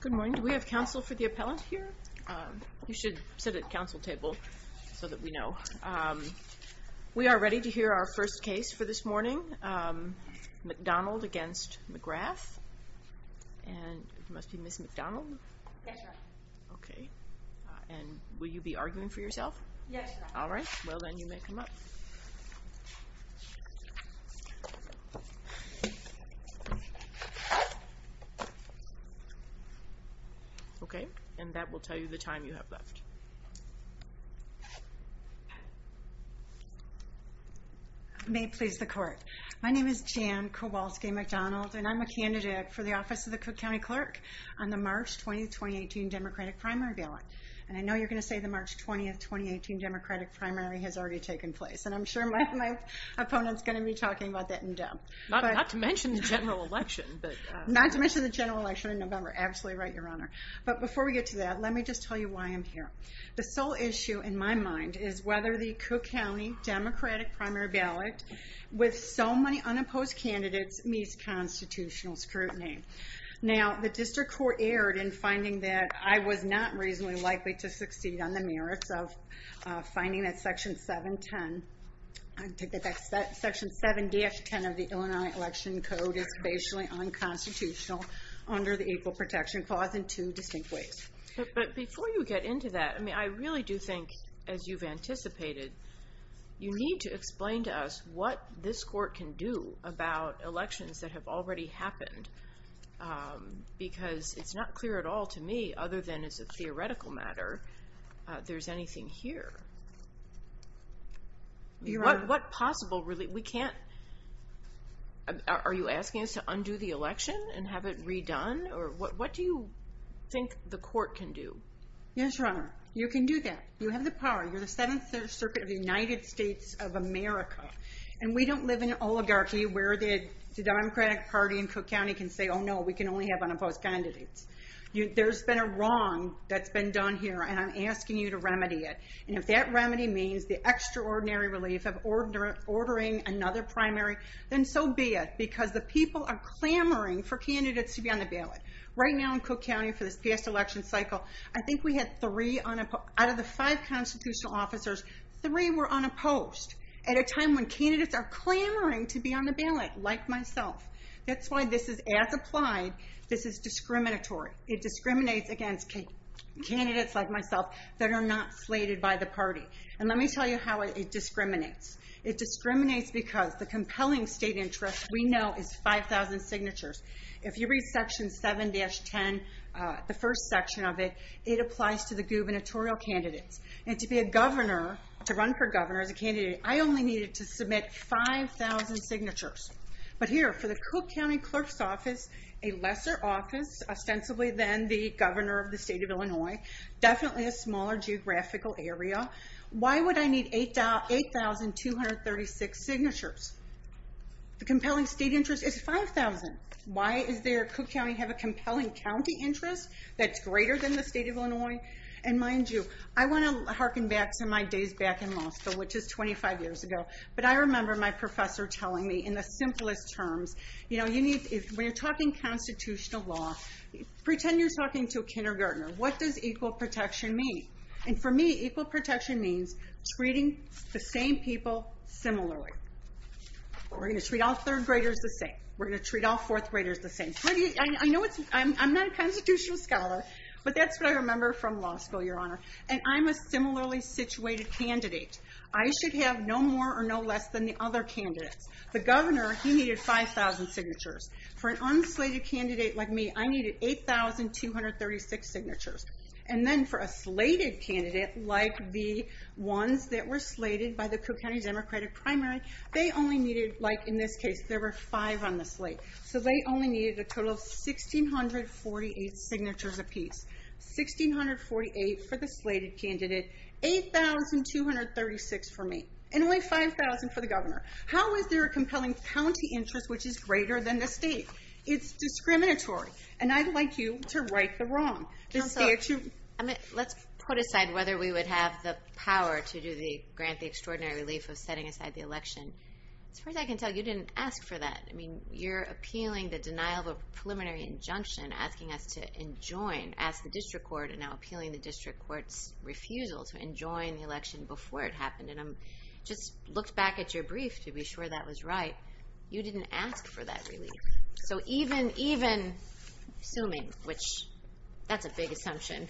Good morning. Do we have counsel for the appellant here? You should sit at the counsel table so that we know. We are ready to hear our first case for this morning, McDonald v. McGrath. And it must be Ms. McDonald? Yes, ma'am. And will you be arguing for yourself? Yes, ma'am. All right. Well, then you may come up. Okay. And that will tell you the time you have left. May it please the court. My name is Jan Kowalski McDonald, and I'm a candidate for the office of the Cook County Clerk on the March 20, 2018 Democratic primary ballot. And I know you're going to say the March 20, 2018 Democratic primary has already taken place. And I'm sure my opponent's going to be talking about that in depth. Not to mention the general election. Not to mention the general election in November. Absolutely right, Your Honor. But before we get to that, let me just tell you why I'm here. The sole issue in my mind is whether the Cook County Democratic primary ballot, with so many unopposed candidates, meets constitutional scrutiny. Now, the district court erred in finding that I was not reasonably likely to succeed on the merits of finding that Section 7-10 of the Illinois Election Code is spatially unconstitutional under the Equal Protection Clause in two distinct ways. But before you get into that, I really do think, as you've anticipated, you need to explain to us what this court can do about elections that have already happened. Because it's not clear at all to me, other than it's a theoretical matter, there's anything here. What possible... Are you asking us to undo the election and have it redone? What do you think the court can do? Yes, Your Honor. You can do that. You have the power. You're the 7th Circuit of the United States of America. And we don't live in an oligarchy where the Democratic Party in Cook County can say, oh no, we can only have unopposed candidates. There's been a wrong that's been done here, and I'm asking you to remedy it. And if that remedy means the extraordinary relief of ordering another primary, then so be it. Because the people are clamoring for candidates to be on the ballot. Right now in Cook County for this past election cycle, I think we had 3 out of the 5 constitutional officers, 3 were unopposed at a time when candidates are clamoring to be on the ballot, like myself. That's why this is, as applied, this is discriminatory. It discriminates against candidates like myself that are not slated by the party. And let me tell you how it discriminates. It discriminates because the compelling state interest we know is 5,000 signatures. If you read Section 7-10, the first section of it, it applies to the gubernatorial candidates. And to be a governor, to run for governor as a candidate, I only needed to submit 5,000 signatures. But here, for the Cook County Clerk's Office, a lesser office ostensibly than the governor of the state of Illinois, definitely a smaller geographical area, why would I need 8,236 signatures? The compelling state interest is 5,000. Why does Cook County have a compelling county interest that's greater than the state of Illinois? And mind you, I want to harken back to my days back in law school, which is 25 years ago. But I remember my professor telling me, in the simplest terms, when you're talking constitutional law, pretend you're talking to a kindergartner. What does equal protection mean? And for me, equal protection means treating the same people similarly. We're going to treat all third graders the same. We're going to treat all fourth graders the same. I'm not a constitutional scholar, but that's what I remember from law school, Your Honor. And I'm a similarly situated candidate. I should have no more or no less than the other candidates. The governor, he needed 5,000 signatures. For an unslated candidate like me, I needed 8,236 signatures. And then for a slated candidate, like the ones that were slated by the Cook County Democratic Primary, they only needed, like in this case, there were 5 on the slate. So they only needed a total of 1,648 signatures apiece. 1,648 for the slated candidate, 8,236 for me. And only 5,000 for the governor. How is there a compelling county interest which is greater than the state? It's discriminatory. And I'd like you to right the wrong. Let's put aside whether we would have the power to grant the extraordinary relief of setting aside the election. As far as I can tell, you didn't ask for that. I mean, you're appealing the denial of a preliminary injunction asking us to ask the district court and now appealing the district court's refusal to enjoin the election before it happened. And I just looked back at your brief to be sure that was right. You didn't ask for that relief. So even assuming, which that's a big assumption,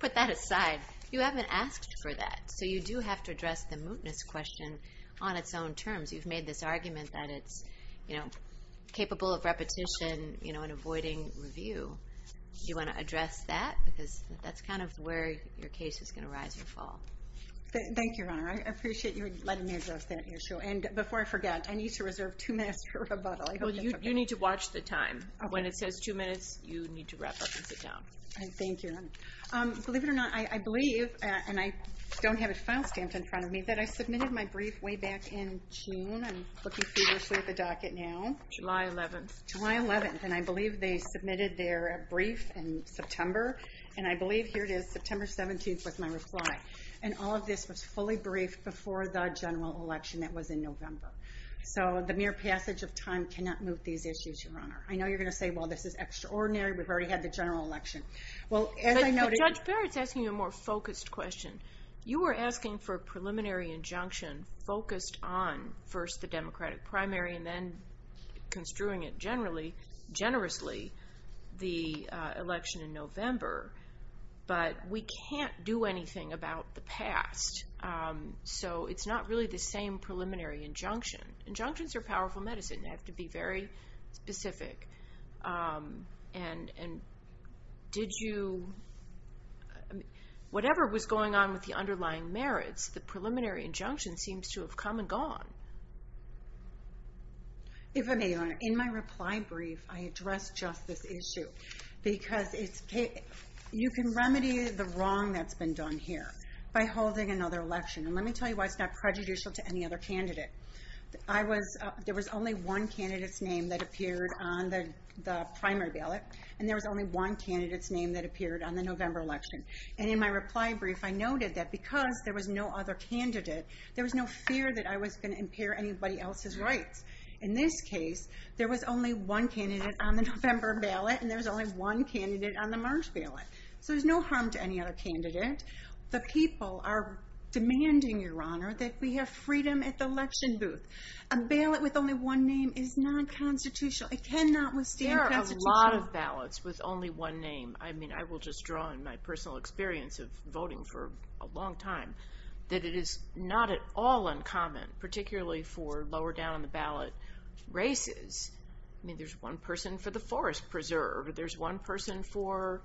put that aside, you haven't asked for that. So you do have to address the mootness question on its own terms. You've made this argument that it's capable of repetition and avoiding review. Do you want to address that? Because that's kind of where your case is going to rise or fall. Thank you, Your Honor. I appreciate you letting me address that issue. And before I forget, I need to reserve two minutes for rebuttal. You need to watch the time. When it says two minutes, you need to wrap up and sit down. Thank you, Your Honor. Believe it or not, I believe, and I don't have it file stamped in front of me, that I submitted my brief way back in June. I'm looking feverishly at the docket now. July 11th. July 11th. And I believe they submitted their brief in September. And I believe, here it is, September 17th was my reply. And all of this was fully briefed before the general election that was in November. So the mere passage of time cannot moot these issues, Your Honor. I know you're going to say, well, this is extraordinary. We've already had the general election. Judge Barrett's asking a more focused question. You were asking for a preliminary injunction focused on, first, the Democratic primary and then construing it generously the election in November. So it's not really the same preliminary injunction. Injunctions are powerful medicine. They have to be very specific. Whatever was going on with the underlying merits, the preliminary injunction seems to have come and gone. If I may, Your Honor, in my reply brief, I addressed just this issue. Because you can remedy the wrong that's been done here by holding another election. And let me tell you why it's not prejudicial to any other candidate. There was only one candidate's name that appeared on the primary ballot. And there was only one candidate's name that appeared on the November election. And in my reply brief, I noted that because there was no other candidate, there was no fear that I was going to impair anybody else's rights. In this case, there was only one candidate on the November ballot, and there was only one candidate on the March ballot. So there's no harm to any other candidate. The people are demanding, Your Honor, that we have freedom at the election booth. A ballot with only one name is non-constitutional. It cannot withstand constitution. There are a lot of ballots with only one name. I mean, I will just draw on my personal experience of voting for a long time. That it is not at all uncommon, particularly for lower-down-on-the-ballot races. I mean, there's one person for the forest preserve. There's one person for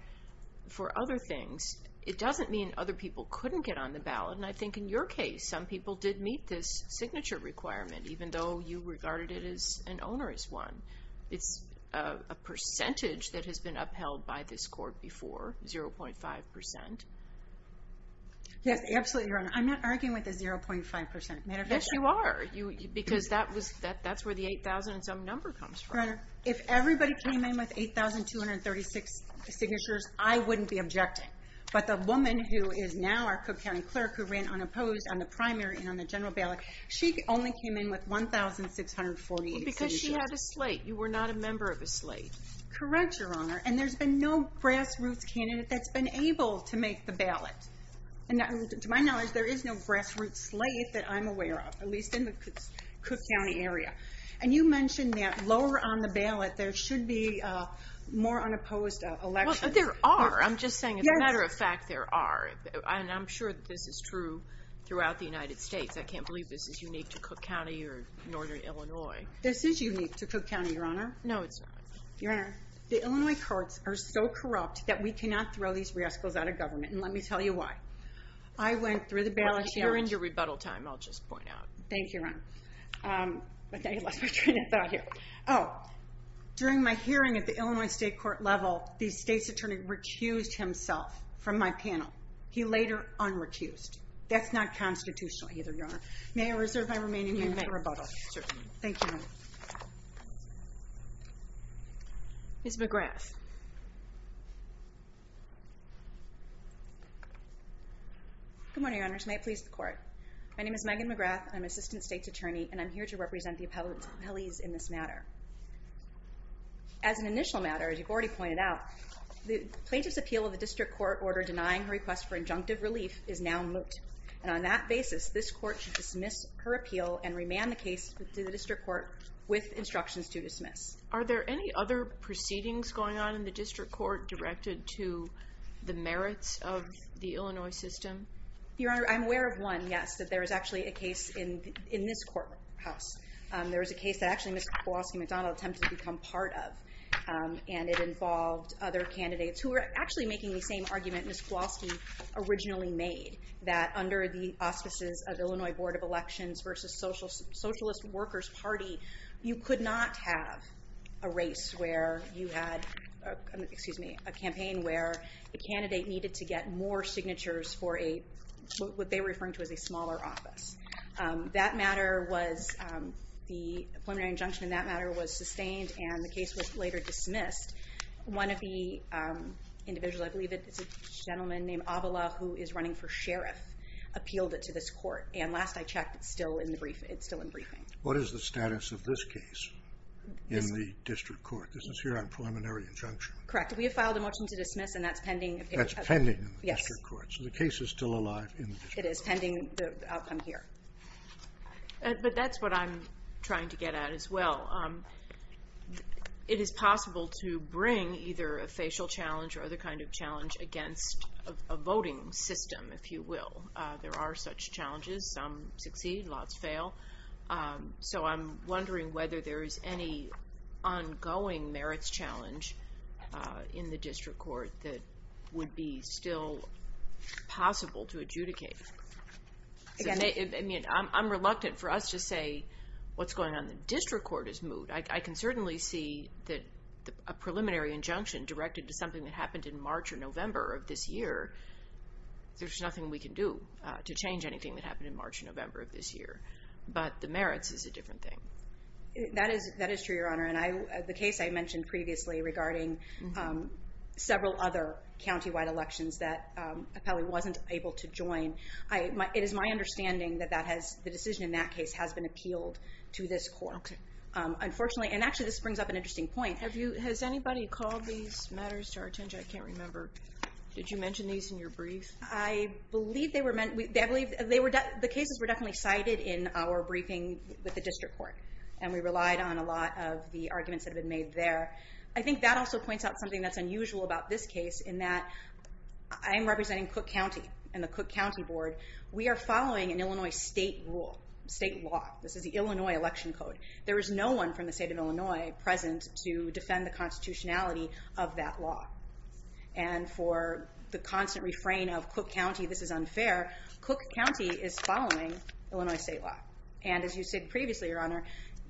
other things. It doesn't mean other people couldn't get on the ballot. And I think in your case, some people did meet this signature requirement, even though you regarded it as an onerous one. It's a percentage that has been upheld by this court before, 0.5%. Yes, absolutely, Your Honor. I'm not arguing with a 0.5%. Yes, you are, because that's where the 8,000-and-some number comes from. If everybody came in with 8,236 signatures, I wouldn't be objecting. But the woman who is now our Cook County clerk, who ran unopposed on the primary and on the general ballot, she only came in with 1,648 signatures. Because she had a slate. You were not a member of a slate. Correct, Your Honor. And there's been no grassroots candidate that's been able to make the ballot. And to my knowledge, there is no grassroots slate that I'm aware of, at least in the Cook County area. And you mentioned that lower-on-the-ballot, there should be more unopposed elections. Well, there are. I'm just saying, as a matter of fact, there are. And I'm sure that this is true throughout the United States. I can't believe this is unique to Cook County or northern Illinois. This is unique to Cook County, Your Honor. No, it's not. Your Honor, the Illinois courts are so corrupt that we cannot throw these rascals out of government. And let me tell you why. I went through the ballot challenge. You're in your rebuttal time, I'll just point out. Thank you, Your Honor. I thought you lost my train of thought here. Oh, during my hearing at the Illinois state court level, the state's attorney recused himself from my panel. He later unrecused. That's not constitutional either, Your Honor. May I reserve my remaining minute for rebuttal? Certainly. Thank you. Ms. McGrath. Good morning, Your Honors. May it please the Court. My name is Megan McGrath. I'm assistant state's attorney, and I'm here to represent the appellees in this matter. As an initial matter, as you've already pointed out, the plaintiff's appeal of the district court order denying her request for injunctive relief is now moot. And on that basis, this court should dismiss her appeal and remand the case to the district court with instructions to dismiss. Are there any other proceedings going on in the district court directed to the merits of the Illinois system? Your Honor, I'm aware of one, yes, that there is actually a case in this courthouse. There is a case that actually Ms. Kowalski McDonald attempted to become part of, and it involved other candidates who were actually making the same argument Ms. Kowalski originally made, that under the auspices of the Illinois Board of Elections versus Socialist Workers Party, you could not have a race where you had, excuse me, a campaign where a candidate needed to get more signatures for what they were referring to as a smaller office. That matter was, the preliminary injunction in that matter was sustained, and the case was later dismissed. One of the individuals, I believe it's a gentleman named Avala, who is running for sheriff, appealed it to this court, and last I checked, it's still in briefing. What is the status of this case in the district court? This is here on preliminary injunction. Correct. We have filed a motion to dismiss, and that's pending. That's pending in the district court, so the case is still alive in the district court. It is pending the outcome here. But that's what I'm trying to get at as well. It is possible to bring either a facial challenge or other kind of challenge against a voting system, if you will. There are such challenges. Some succeed, lots fail. So I'm wondering whether there is any ongoing merits challenge in the district court that would be still possible to adjudicate. I'm reluctant for us to say what's going on in the district court is moot. I can certainly see that a preliminary injunction directed to something that happened in March or November of this year, there's nothing we can do to change anything that happened in March or November of this year. But the merits is a different thing. That is true, Your Honor. And the case I mentioned previously regarding several other countywide elections that Appellee wasn't able to join, it is my understanding that the decision in that case has been appealed to this court. Unfortunately, and actually this brings up an interesting point. Has anybody called these matters to our attention? I can't remember. Did you mention these in your brief? I believe the cases were definitely cited in our briefing with the district court. And we relied on a lot of the arguments that have been made there. I think that also points out something that's unusual about this case, in that I'm representing Cook County and the Cook County Board. We are following an Illinois state rule, state law. This is the Illinois election code. There is no one from the state of Illinois present to defend the constitutionality of that law. And for the constant refrain of Cook County, this is unfair, Cook County is following Illinois state law. And as you said previously, Your Honor,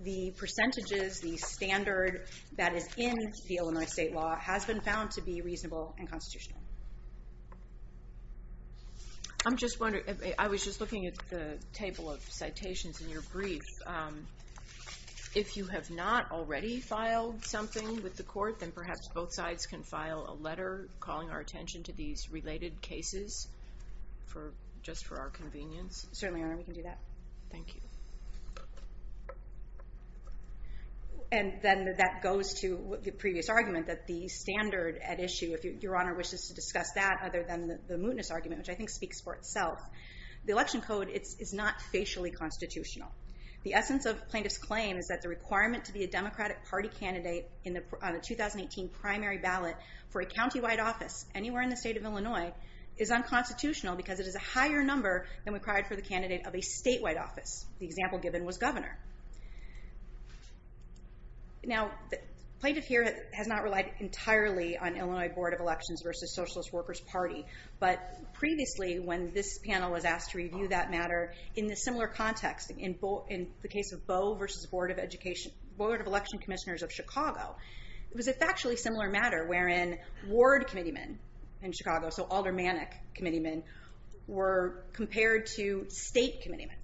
the percentages, the standard that is in the Illinois state law has been found to be reasonable and constitutional. I'm just wondering, I was just looking at the table of citations in your brief. If you have not already filed something with the court, then perhaps both sides can file a letter calling our attention to these related cases, just for our convenience. Certainly, Your Honor, we can do that. Thank you. And then that goes to the previous argument that the standard at issue, if Your Honor wishes to discuss that other than the mootness argument, which I think speaks for itself. The election code is not facially constitutional. The essence of plaintiff's claim is that the requirement to be a Democratic Party candidate on a 2018 primary ballot for a county-wide office anywhere in the state of Illinois is unconstitutional because it is a higher number than required for the candidate of a statewide office. The example given was governor. Now, plaintiff here has not relied entirely on Illinois Board of Elections versus Socialist Workers Party. But previously, when this panel was asked to review that matter in a similar context, in the case of Boe versus Board of Election Commissioners of Chicago, it was a factually similar matter wherein ward committeemen in Chicago, so aldermanic committeemen, were compared to state committeemen.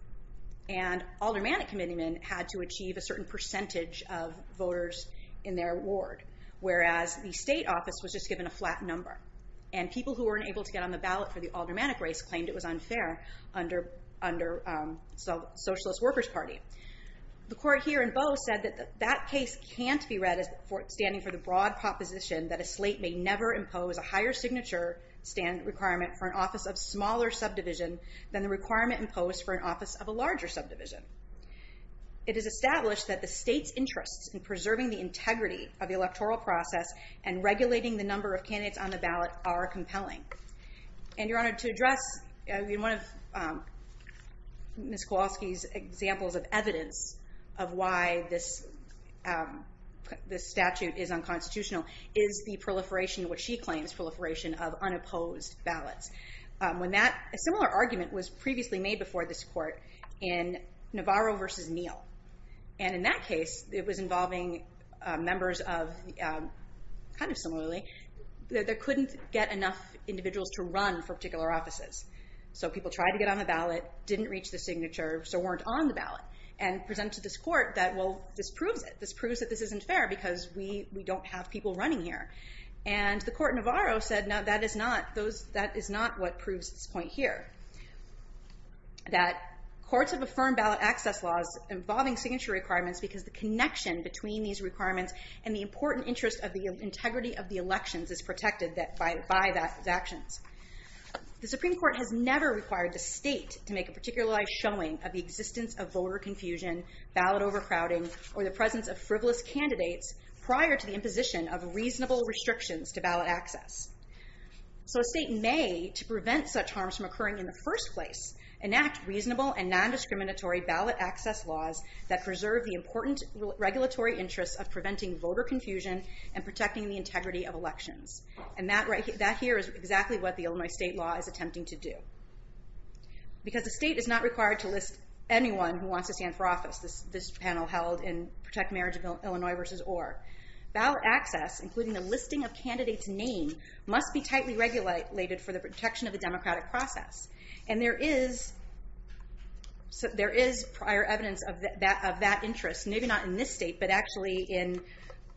And aldermanic committeemen had to achieve a certain percentage of voters in their ward, whereas the state office was just given a flat number. And people who weren't able to get on the ballot for the aldermanic race claimed it was unfair under Socialist Workers Party. The court here in Boe said that that case can't be read as standing for the broad proposition that a slate may never impose a higher signature stand requirement for an office of smaller subdivision than the requirement imposed for an office of a larger subdivision. It is established that the state's interests in preserving the integrity of the electoral process and regulating the number of candidates on the ballot are compelling. And your honor, to address one of Ms. Kowalski's examples of evidence of why this statute is unconstitutional is the proliferation of what she claims proliferation of unopposed ballots. A similar argument was previously made before this court in Navarro versus Neal. And in that case, it was involving members of, kind of similarly, that they couldn't get enough individuals to run for particular offices. So people tried to get on the ballot, didn't reach the signature, so weren't on the ballot. And presented to this court that, well, this proves it. This proves that this isn't fair because we don't have people running here. And the court in Navarro said, no, that is not what proves its point here. That courts have affirmed ballot access laws involving signature requirements because the connection between these requirements and the important interest of the integrity of the elections is protected by those actions. The Supreme Court has never required the state to make a particularized showing of the existence of voter confusion, ballot overcrowding, or the presence of frivolous candidates prior to the imposition of reasonable restrictions to ballot access. So a state may, to prevent such harms from occurring in the first place, enact reasonable and non-discriminatory ballot access laws that preserve the important regulatory interest of preventing voter confusion and protecting the integrity of elections. And that here is exactly what the Illinois state law is attempting to do. Because the state is not required to list anyone who wants to stand for office, this panel held in Protect Marriage of Illinois versus Orr, ballot access, including the listing of candidates' name, must be tightly regulated for the protection of the democratic process. And there is prior evidence of that interest. Maybe not in this state, but actually in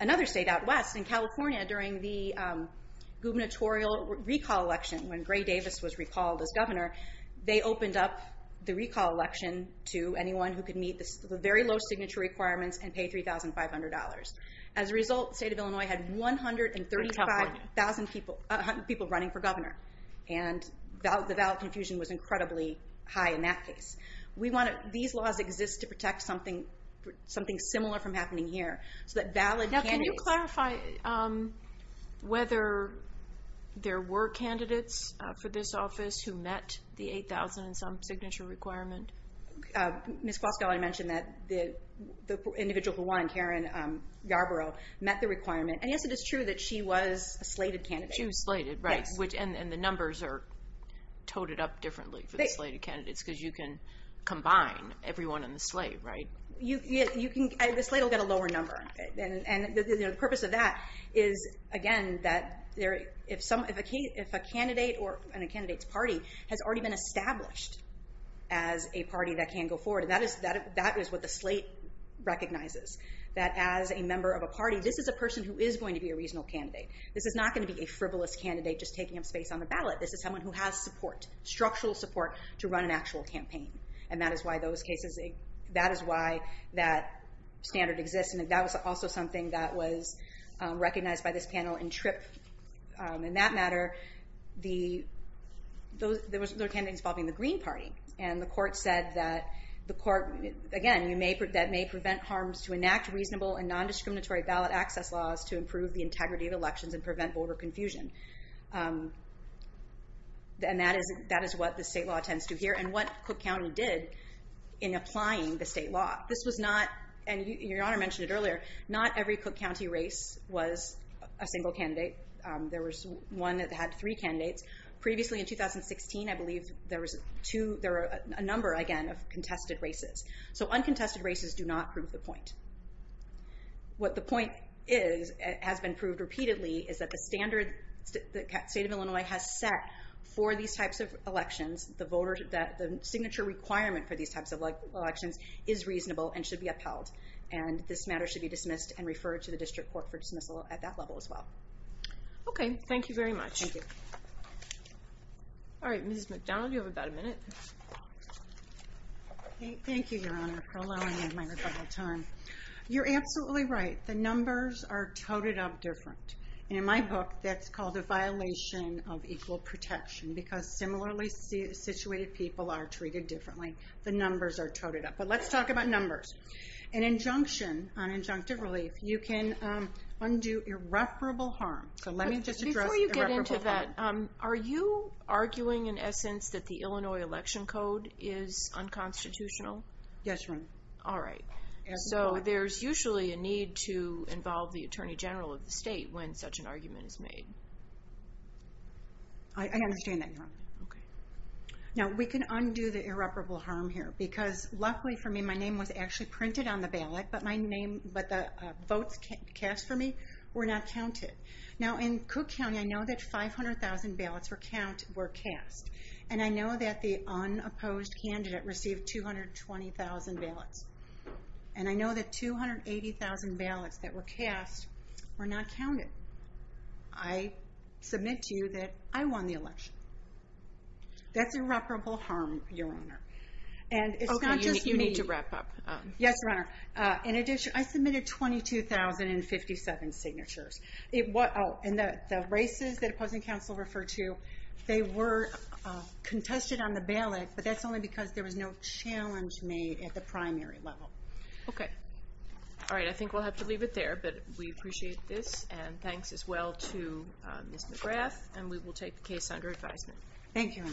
another state out west, in California, during the gubernatorial recall election, when Gray Davis was recalled as governor, they opened up the recall election to anyone who could meet the very low signature requirements and pay $3,500. As a result, the state of Illinois had 135,000 people running for governor. And the ballot confusion was incredibly high in that case. These laws exist to protect something similar from happening here. Now, can you clarify whether there were candidates for this office who met the $8,000 and some signature requirement? Ms. Foskell, I mentioned that the individual who won, Karen Yarborough, met the requirement. And, yes, it is true that she was a slated candidate. But you slated, right? And the numbers are toted up differently for the slated candidates because you can combine everyone in the slate, right? The slate will get a lower number. And the purpose of that is, again, that if a candidate or a candidate's party has already been established as a party that can go forward, that is what the slate recognizes, that as a member of a party, this is a person who is going to be a reasonable candidate. This is not going to be a frivolous candidate just taking up space on the ballot. This is someone who has support, structural support, to run an actual campaign. And that is why that standard exists. And that was also something that was recognized by this panel in TRIP. In that matter, there were candidates involving the Green Party. And the court said that, again, that may prevent harms to enact reasonable and nondiscriminatory ballot access laws to improve the integrity of elections and prevent voter confusion. And that is what the state law tends to do here and what Cook County did in applying the state law. This was not, and Your Honor mentioned it earlier, not every Cook County race was a single candidate. There was one that had three candidates. Previously in 2016, I believe, there were a number, again, of contested races. So uncontested races do not prove the point. What the point is, has been proved repeatedly, is that the standard the state of Illinois has set for these types of elections, the signature requirement for these types of elections, is reasonable and should be upheld. And this matter should be dismissed and referred to the district court for dismissal at that level as well. Okay, thank you very much. All right, Mrs. McDonald, you have about a minute. Thank you, Your Honor, for allowing me my rebuttal time. You're absolutely right. The numbers are toted up different. And in my book, that's called a violation of equal protection because similarly situated people are treated differently. The numbers are toted up. But let's talk about numbers. An injunction on injunctive relief, you can undo irreparable harm. So let me just address irreparable harm. Are you arguing, in essence, that the Illinois election code is unconstitutional? Yes, ma'am. All right. So there's usually a need to involve the attorney general of the state when such an argument is made. I understand that, Your Honor. Now, we can undo the irreparable harm here because luckily for me, my name was actually printed on the ballot, but the votes cast for me were not counted. Now, in Cook County, I know that 500,000 ballots were cast. And I know that the unopposed candidate received 220,000 ballots. And I know that 280,000 ballots that were cast were not counted. I submit to you that I won the election. That's irreparable harm, Your Honor. Okay, you need to wrap up. Yes, Your Honor. I submitted 22,057 signatures. And the races that opposing counsel referred to, they were contested on the ballot, but that's only because there was no challenge made at the primary level. Okay. All right, I think we'll have to leave it there, but we appreciate this. And thanks as well to Ms. McGrath. And we will take the case under advisement. Thank you.